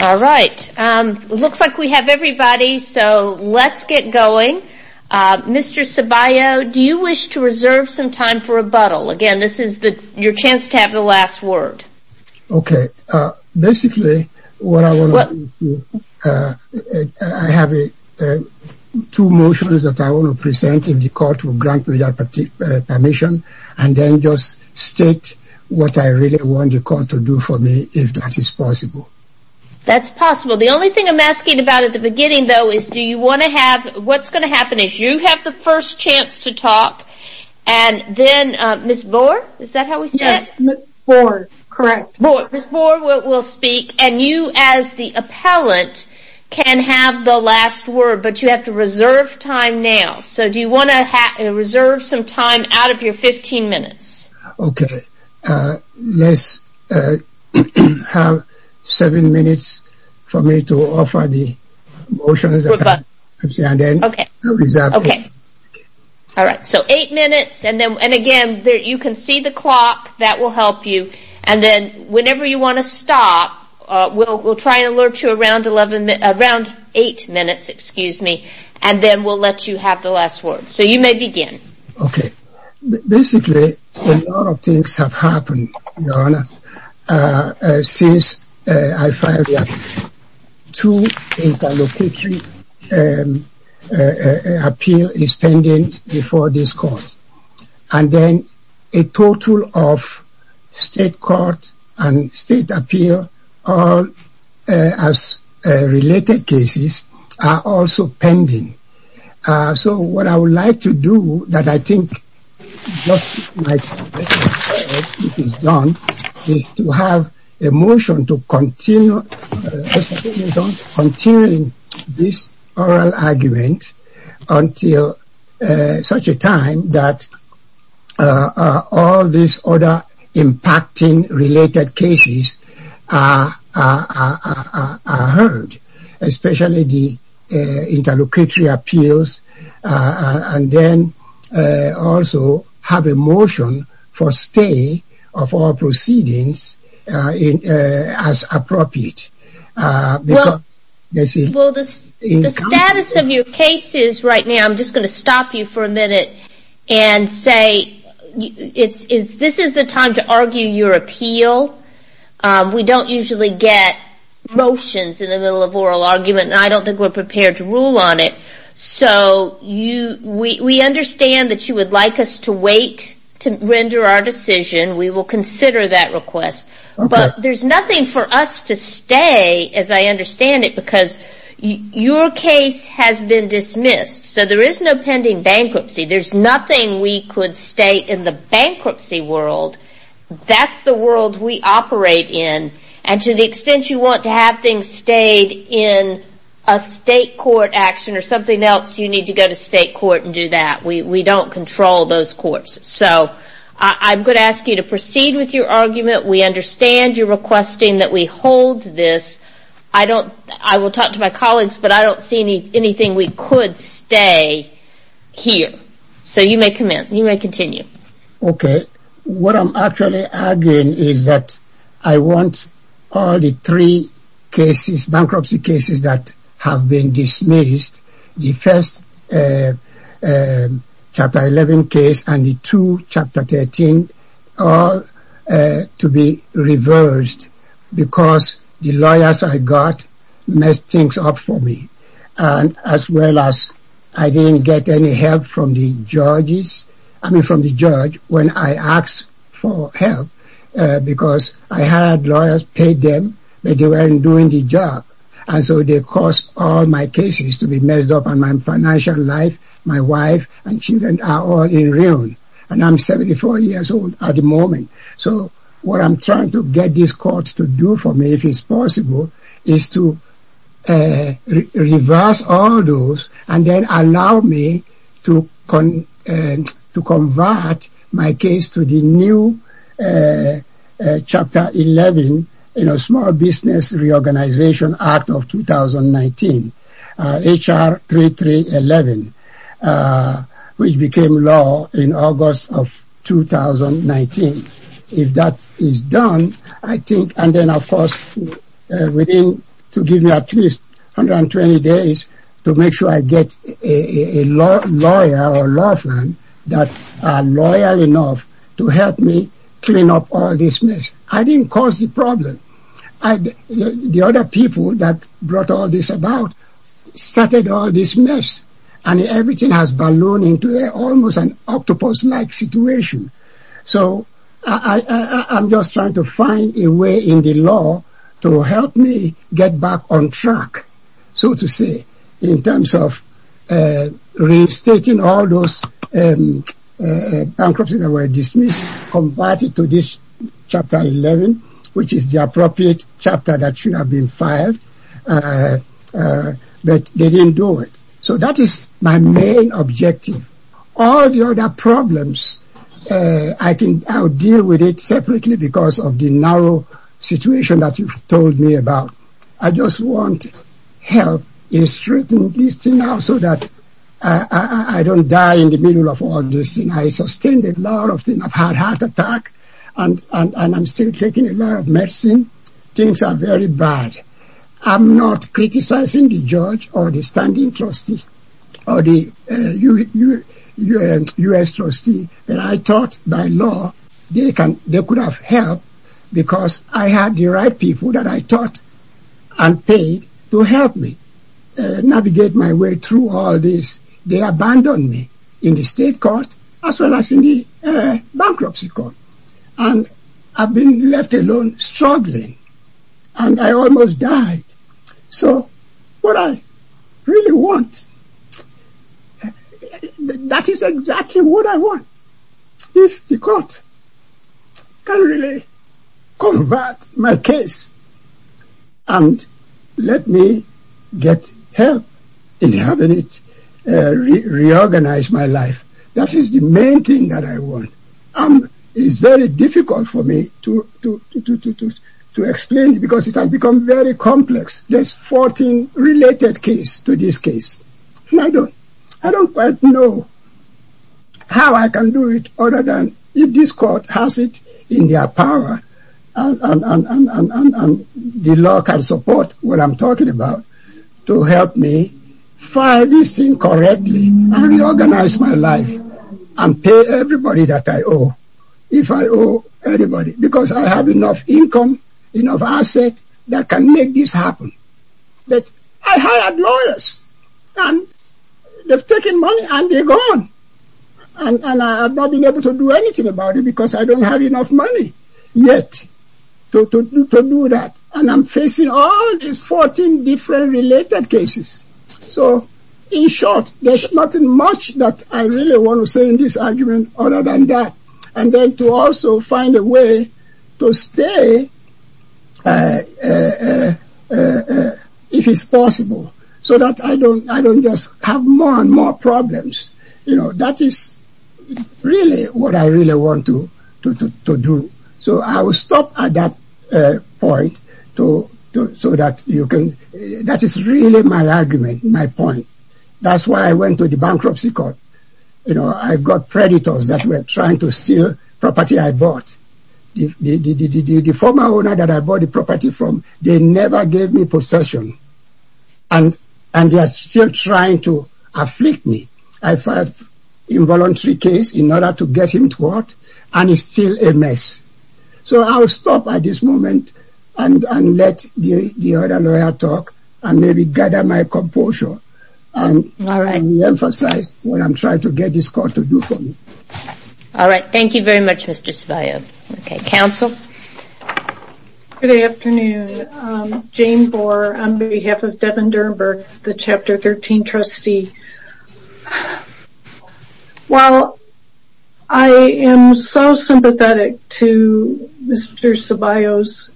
Alright, looks like we have everybody so let's get going. Mr. Sobayo, do you wish to reserve some time for rebuttal? Again, this is your chance to have the last word. Okay, basically what I want to do is I have two motions that I want to present if the court will grant me that permission and then just state what I really want the court to do for me if that is possible. That's possible. The only thing I'm asking about at the beginning though is do you want to have, what's going to happen is you have the first chance to talk and then Ms. Boer, is that how we say it? Yes, Ms. Boer, correct. Ms. Boer will speak and you as the appellant can have the last word but you have to reserve time now. Alright, so do you want to reserve some time out of your 15 minutes? Okay, let's have 7 minutes for me to offer the motions and then I'll reserve 8 minutes. Alright, so 8 minutes and again you can see the clock, that will help you and then whenever you want to stop, we'll try to alert you around 8 minutes and then we'll let you have the last word. So you may begin. Okay, basically a lot of things have happened, Your Honor, since I filed the appeal. Two interlocutory appeals are pending before this court and then a total of state court and state appeal are as related cases are also pending. What I would like to do that I think is done is to have a motion to continue this oral argument until such a time that all these other impacting related cases are heard, especially the interlocutory appeals and then also have a motion for stay of all proceedings as appropriate. Well, the status of your cases right now, I'm just going to stop you for a minute and say this is the time to argue your appeal. We don't usually get motions in the middle of oral argument and I don't think we're prepared to rule on it. So we understand that you would like us to wait to render our decision. We will consider that request. But there's nothing for us to stay as I understand it because your case has been dismissed. So there is no pending bankruptcy. There's nothing we could state in the bankruptcy world. That's the world we operate in and to the extent you want to have things stayed in a state court action or something else, you need to go to state court and do that. We don't control those courts. So I'm going to ask you to proceed with your argument. We understand you're requesting that we hold this. I will talk to my colleagues, but I don't see anything we could stay here. So you may continue. Okay. What I'm actually arguing is that I want all the three cases, bankruptcy cases that have been dismissed, the first Chapter 11 case and the two Chapter 13, all to be reversed because the lawyers I got messed things up for me. And as well as I didn't get any help from the judges, I mean from the judge when I asked for help because I had lawyers paid them, but they weren't doing the job. And so they caused all my cases to be messed up and my financial life, my wife and children are all in ruin and I'm 74 years old at the moment. So what I'm trying to get these courts to do for me, if it's possible, is to reverse all those and then allow me to convert my case to the new Chapter 11 in a Small Business Reorganization Act of 2019, H.R. 3311, which became law in August of 2019. If that is done, I think, and then of course, within, to give me at least 120 days to make sure I get a lawyer or law firm that are loyal enough to help me clean up all this mess. I didn't cause the problem. The other people that brought all this about started all this I'm just trying to find a way in the law to help me get back on track, so to say, in terms of reinstating all those bankruptcies that were dismissed, convert it to this Chapter 11, which is the appropriate chapter that should have been filed. But they didn't do it. So that is my main objective. All the other problems, I think I'll deal with it separately because of the narrow situation that you've told me about. I just want help in straightening these things out so that I don't die in the middle of all these things. I sustained a lot of things. I've had a heart attack and I'm still taking a lot of medicine. Things are very bad. I'm not criticizing the judge or the standing trustee or the US trustee that I taught by law. They could have helped because I had the right people that I taught and paid to help me navigate my way through all this. They abandoned me in the beginning and I almost died. So what I really want, that is exactly what I want. If the court can really convert my case and let me get help in having it reorganize my life, that is the main thing that I want. It's very difficult for me to explain because it has become very complex. There's 14 related cases to this case. I don't quite know how I can do it other than if this court has it in their power and the law can support what I'm paying everybody that I owe. If I owe anybody because I have enough income, enough asset that can make this happen. I hired lawyers and they've taken money and they're gone. And I've not been able to do anything about it because I don't have enough money yet to do that. And I'm facing all these 14 different related cases. So in short, there's nothing much that I really want to say in this argument other than that. And then to also find a way to stay if it's possible so that I don't just have more and more problems. You know, that is really what I really want to do. So I will stop at that point. That is really my argument, my point. That's why I went to the bankruptcy court. I've got creditors that were trying to steal property I bought. The former owner that I bought the property from, they never gave me possession. And they are still trying to afflict me. I filed involuntary case in order to get him to court and it's still a mess. So I'll stop at this moment and let the other lawyer talk and maybe gather my composure and emphasize what I'm trying to get this court to do for me. Alright, thank you very much Mr. Svayab. Okay, counsel. Good afternoon. Jane Boer on behalf of Devin Durnberg, the Chapter 13 trustee. While I am so sympathetic to Mr. Ceballos'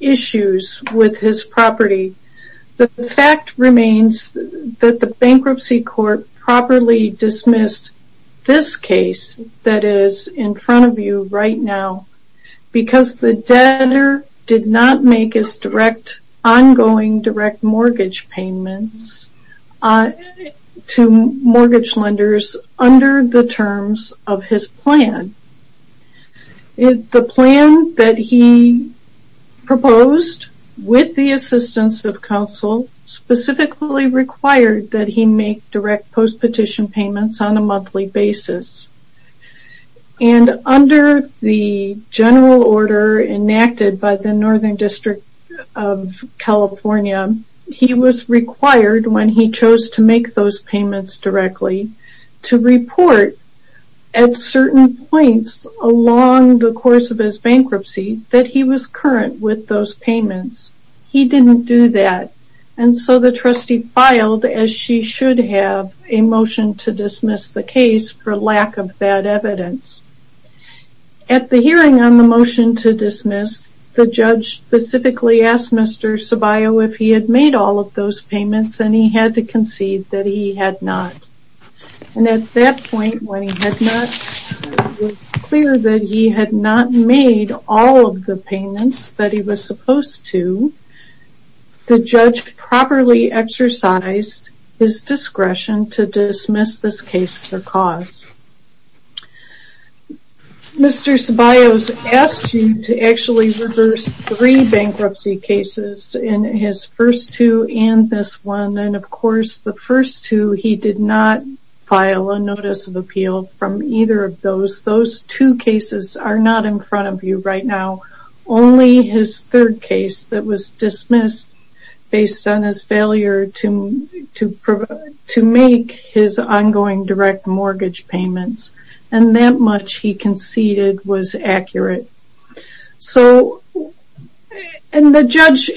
issues with his property, the fact remains that the bankruptcy court properly dismissed this case that is in front of you right now because the debtor did not make his ongoing direct mortgage payments to mortgage lenders under the terms of his plan. The plan that he proposed with the assistance of counsel specifically required that he make direct post-petition payments on a monthly basis. And under the general order enacted by the Northern District of California, he was required when he chose to make those payments directly to report at certain points along the course of his bankruptcy that he was current with those payments. He didn't do that and so the evidence. At the hearing on the motion to dismiss, the judge specifically asked Mr. Ceballos if he had made all of those payments and he had to concede that he had not. And at that point when it was clear that he had not made all of the payments that he was supposed to, the judge properly exercised his discretion to dismiss this case for cause. Mr. Ceballos asked you to actually reverse three bankruptcy cases in his first two and this one and of course the first two he did not file a notice of appeal from either of those. Those two cases are not in front of you right now. Only his third case that was dismissed based on his failure to make his ongoing direct mortgage payments and that much he conceded was accurate. The judge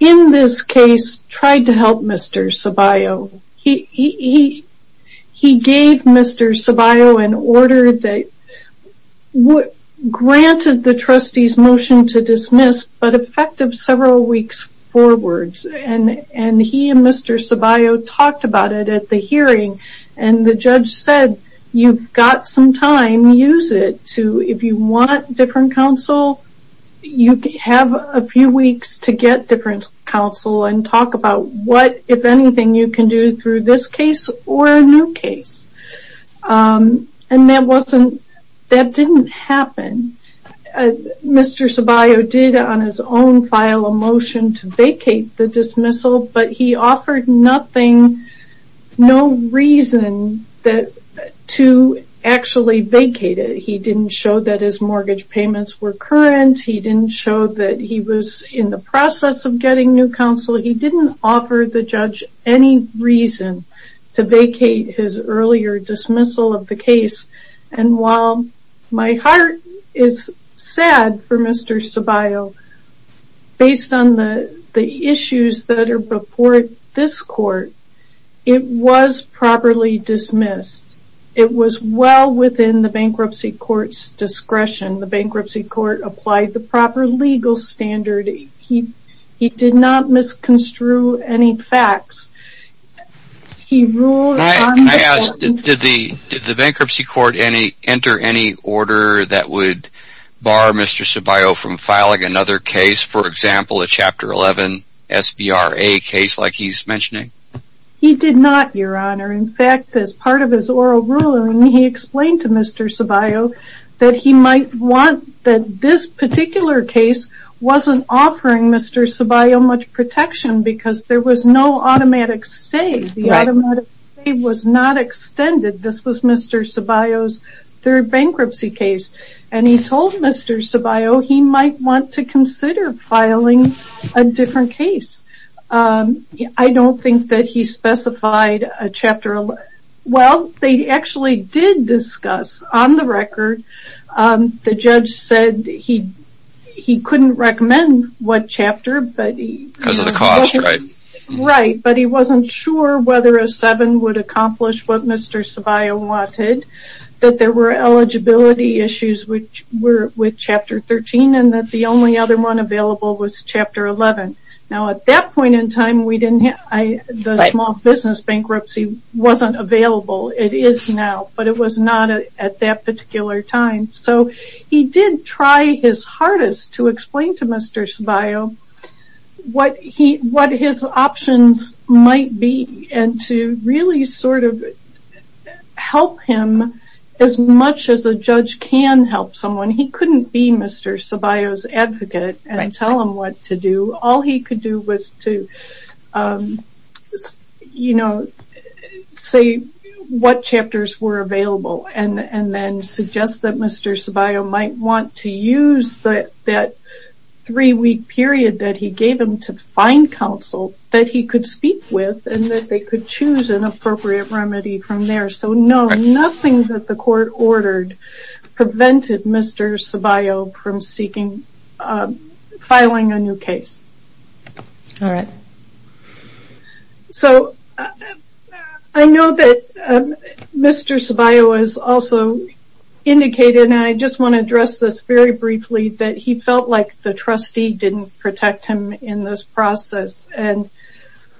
in this case tried to help Mr. Ceballos. He gave Mr. Ceballos an order that granted the trustee's motion to dismiss but effective several weeks forwards and he and Mr. Ceballos talked about it at the hearing and the judge said, you've got some time, use it. If you want different counsel, you have a few weeks to get different counsel and talk about what, if anything, you can do through this case or a new case and that didn't happen. Mr. Ceballos did on his own file a motion to vacate the dismissal but he offered nothing, no reason to actually vacate it. He didn't show that his mortgage payments were current. He didn't show that he was in the process of getting new counsel. He didn't offer the judge any reason to vacate his earlier dismissal of the case and while my heart is sad for Mr. Ceballos, based on the issues that are before this court, it was properly dismissed. It was well within the bankruptcy court's discretion. The bankruptcy court applied the proper legal standard. He did not misconstrue any facts. Did the bankruptcy court enter any order that would bar Mr. Ceballos from filing another case, for example, a Chapter 11 SBRA case like he's mentioning? He did not, Your Honor. In fact, as part of his oral ruling, he explained to Mr. Ceballos that he might want that this particular case wasn't offering Mr. Ceballos much protection because there was no automatic stay. The automatic stay was not extended. This was Mr. Ceballos' third bankruptcy case and he told Mr. Ceballos he might want to consider filing a different case. I don't think that he specified a Chapter 11. Well, they actually did discuss on the record. The judge said he couldn't recommend what chapter. Because of the cost, right? Right, but he wasn't sure whether a 7 would accomplish what Mr. Ceballos wanted, that there were eligibility issues with Chapter 13 and that the only other one available was Chapter 11. Now, at that point in time, the small business bankruptcy wasn't available. It is now, but it was not at that particular time. He did try his hardest to explain to Mr. Ceballos what his options might be and to really sort of help him as much as a judge can help someone. He couldn't be Mr. Ceballos' advocate and tell him what to do. All he could do was to say what chapters were available and then suggest that Mr. Ceballos might want to use that three-week period that he gave him to find counsel that he could speak with and that they could choose an appropriate remedy from there. So, no, nothing that the court ordered prevented Mr. Ceballos from filing a new case. All right. So, I know that Mr. Ceballos also indicated, and I just want to address this very briefly, that he felt like the trustee didn't protect him in this process.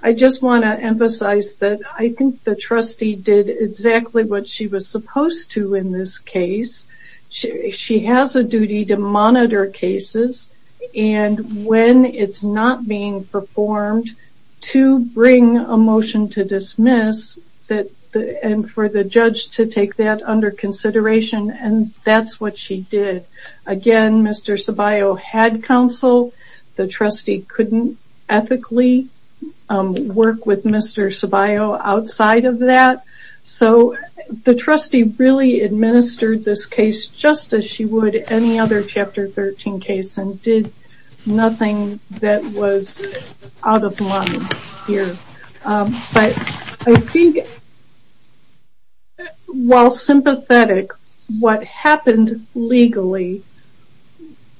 I just want to emphasize that I think the trustee did exactly what she was supposed to in this case. She has a duty to monitor cases, and when it's not being performed, to bring a motion to dismiss and for the judge to take that under consideration, and that's what she did. Again, Mr. Ceballos had counsel. The trustee couldn't ethically work with Mr. Ceballos outside of that, so the trustee really administered this case just as she would any other Chapter 13 case and did nothing that was out of line here. But I think, while sympathetic, what happened legally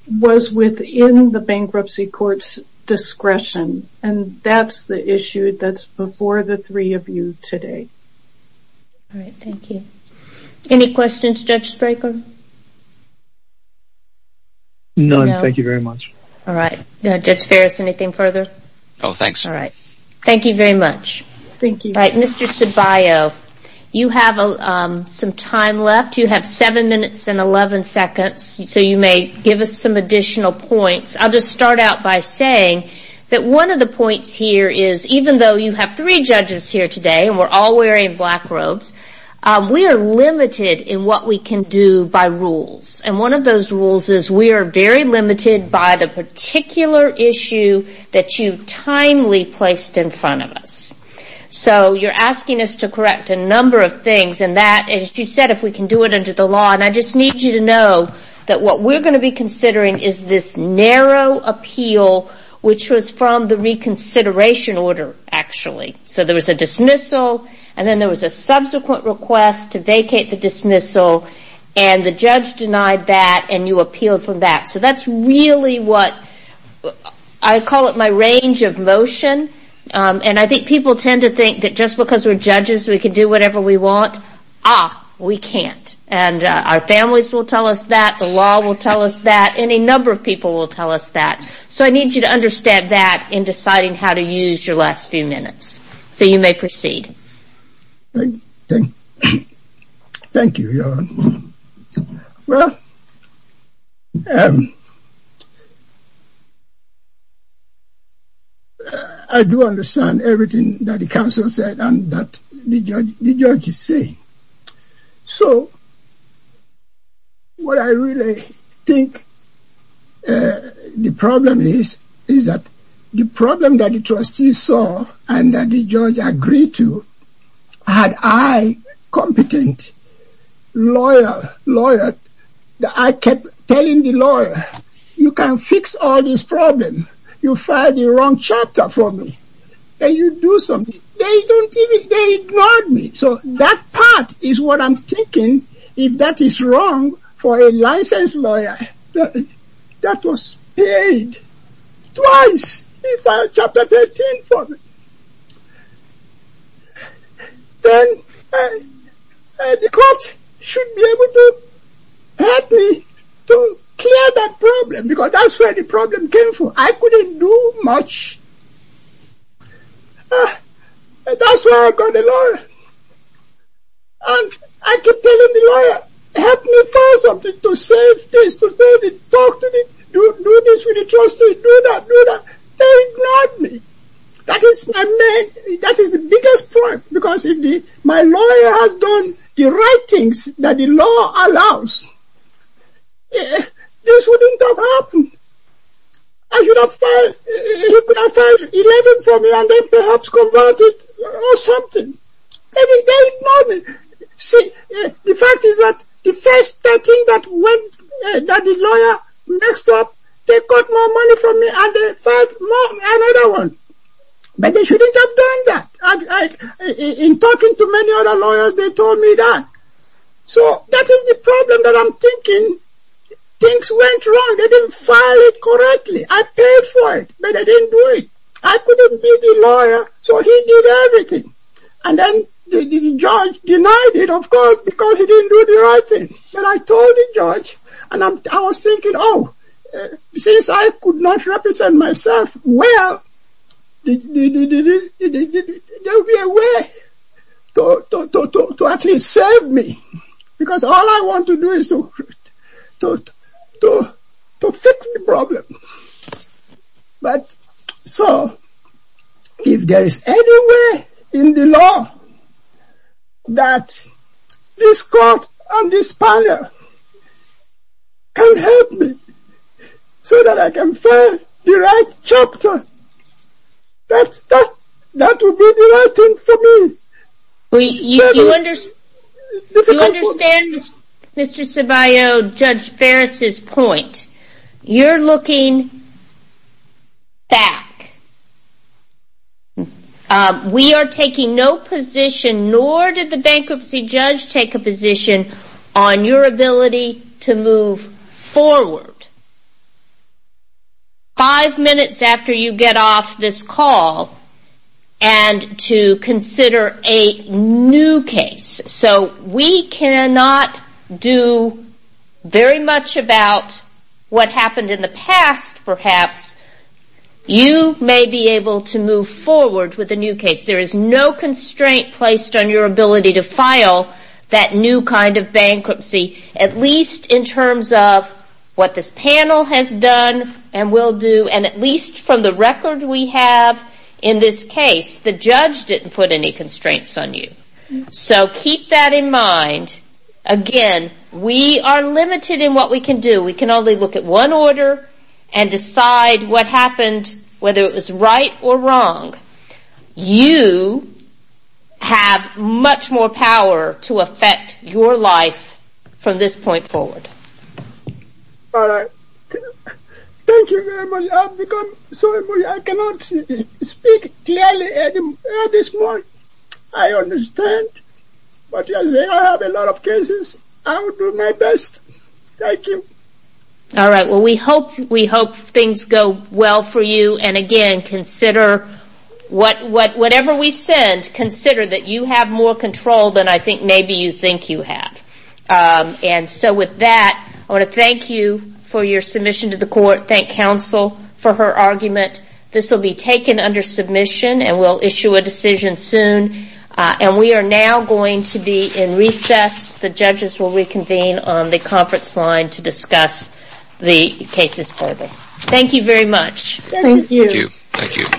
was within the bankruptcy court's discretion, and that's the issue that's before the three of you today. All right. Thank you. Any questions, Judge Spraker? None. Thank you very much. All right. Judge Ferris, anything further? No, thanks. All right. Thank you very much. Thank you. All right. Mr. Ceballos, you have some time left. You have seven minutes and eleven seconds, so you may give us some additional points. I'll just start out by saying that one of the points here is, even though you have three judges here today, and we're all wearing black robes, we are limited in what we can do by rules. And one of those rules is we are very limited by the particular issue that you timely placed in front of us. So you're asking us to correct a number of things, and that, as you said, if we can do it under the law. And I just need you to know that what we're going to be considering is this narrow appeal, which was from the reconsideration order, actually. So there was a dismissal, and then there was a subsequent request to vacate the dismissal, and the judge denied that, and you appealed for that. So that's really what, I call it my range of motion, and I think people tend to think that just because we're judges we can do whatever we want. Ah, we can't. And our families will tell us that, the law will tell us that, any number of people will tell us that. So I need you to understand that in deciding how to use your last few minutes. So you may proceed. Thank you. Well, I do understand everything that the counsel said, and that the judge is saying. So, what I really think the problem is, is that the problem that the trustee saw, and that the judge agreed to, had I, competent lawyer, lawyer, that I kept telling the lawyer, you can fix all this problem, you filed the wrong chapter for me, and you do something. They don't even, they ignored me. So that part is what I'm thinking, if that is wrong for a licensed lawyer, that was paid twice to file chapter 13 for me. Then the court should be able to help me to clear that problem, because that's where the problem came from. I couldn't do much. That's why I got a lawyer. And I kept telling the lawyer, help me file something to save this, to save it, talk to me, do this with the trustee, do that, do that. They ignored me. That is my main, that is the biggest point, because if my lawyer has done the right things that the law allows, this wouldn't have happened. I should have filed, he could have filed 11 for me, and then perhaps converted, or something. They ignored me. See, the fact is that the first 13 that went, that the lawyer mixed up, they got more money from me, and they filed another one. But they shouldn't have done that. In talking to many other lawyers, they told me that. So that is the problem that I'm thinking. Things went wrong, they didn't file it correctly. I paid for it, but they didn't do it. I couldn't be the lawyer, so he did everything. And then the judge denied it, of course, because he didn't do the right thing. But I told the judge, and I was thinking, oh, since I could not represent myself well, there will be a way to at least save me, because all I want to do is to fix the problem. But, so, if there is any way in the law that this can be done, so that I can file the right chapter, that would be the right thing for me. You understand Mr. Ceballo, Judge Ferris' point? You're looking back. We are taking no position, nor did the bankruptcy judge take a position, on your ability to move forward. Five minutes after you get off this call, and to consider a new case. So we cannot do very much about what happened in the past, perhaps. You may be able to move forward with a new case. There is no constraint placed on your ability to file that new kind of bankruptcy, at least in terms of what this panel has done, and will do, and at least from the record we have in this case, the judge didn't put any constraints on you. So keep that in mind. Again, we are limited in what we can do. We can only look at one thing. You have much more power to affect your life from this point forward. Thank you very much. I cannot speak clearly at this point. I understand. I have a lot of cases. I will do my best. Thank you. All right. Well, we hope things go well for you, and again, whatever we send, consider that you have more control than I think maybe you think you have. And so with that, I want to thank you for your submission to the court, thank counsel for her argument. This will be taken under submission, and we'll issue a decision soon. And we are now going to be in recess. The judges will reconvene on the conference line to discuss the cases further. Thank you very much. Thank you.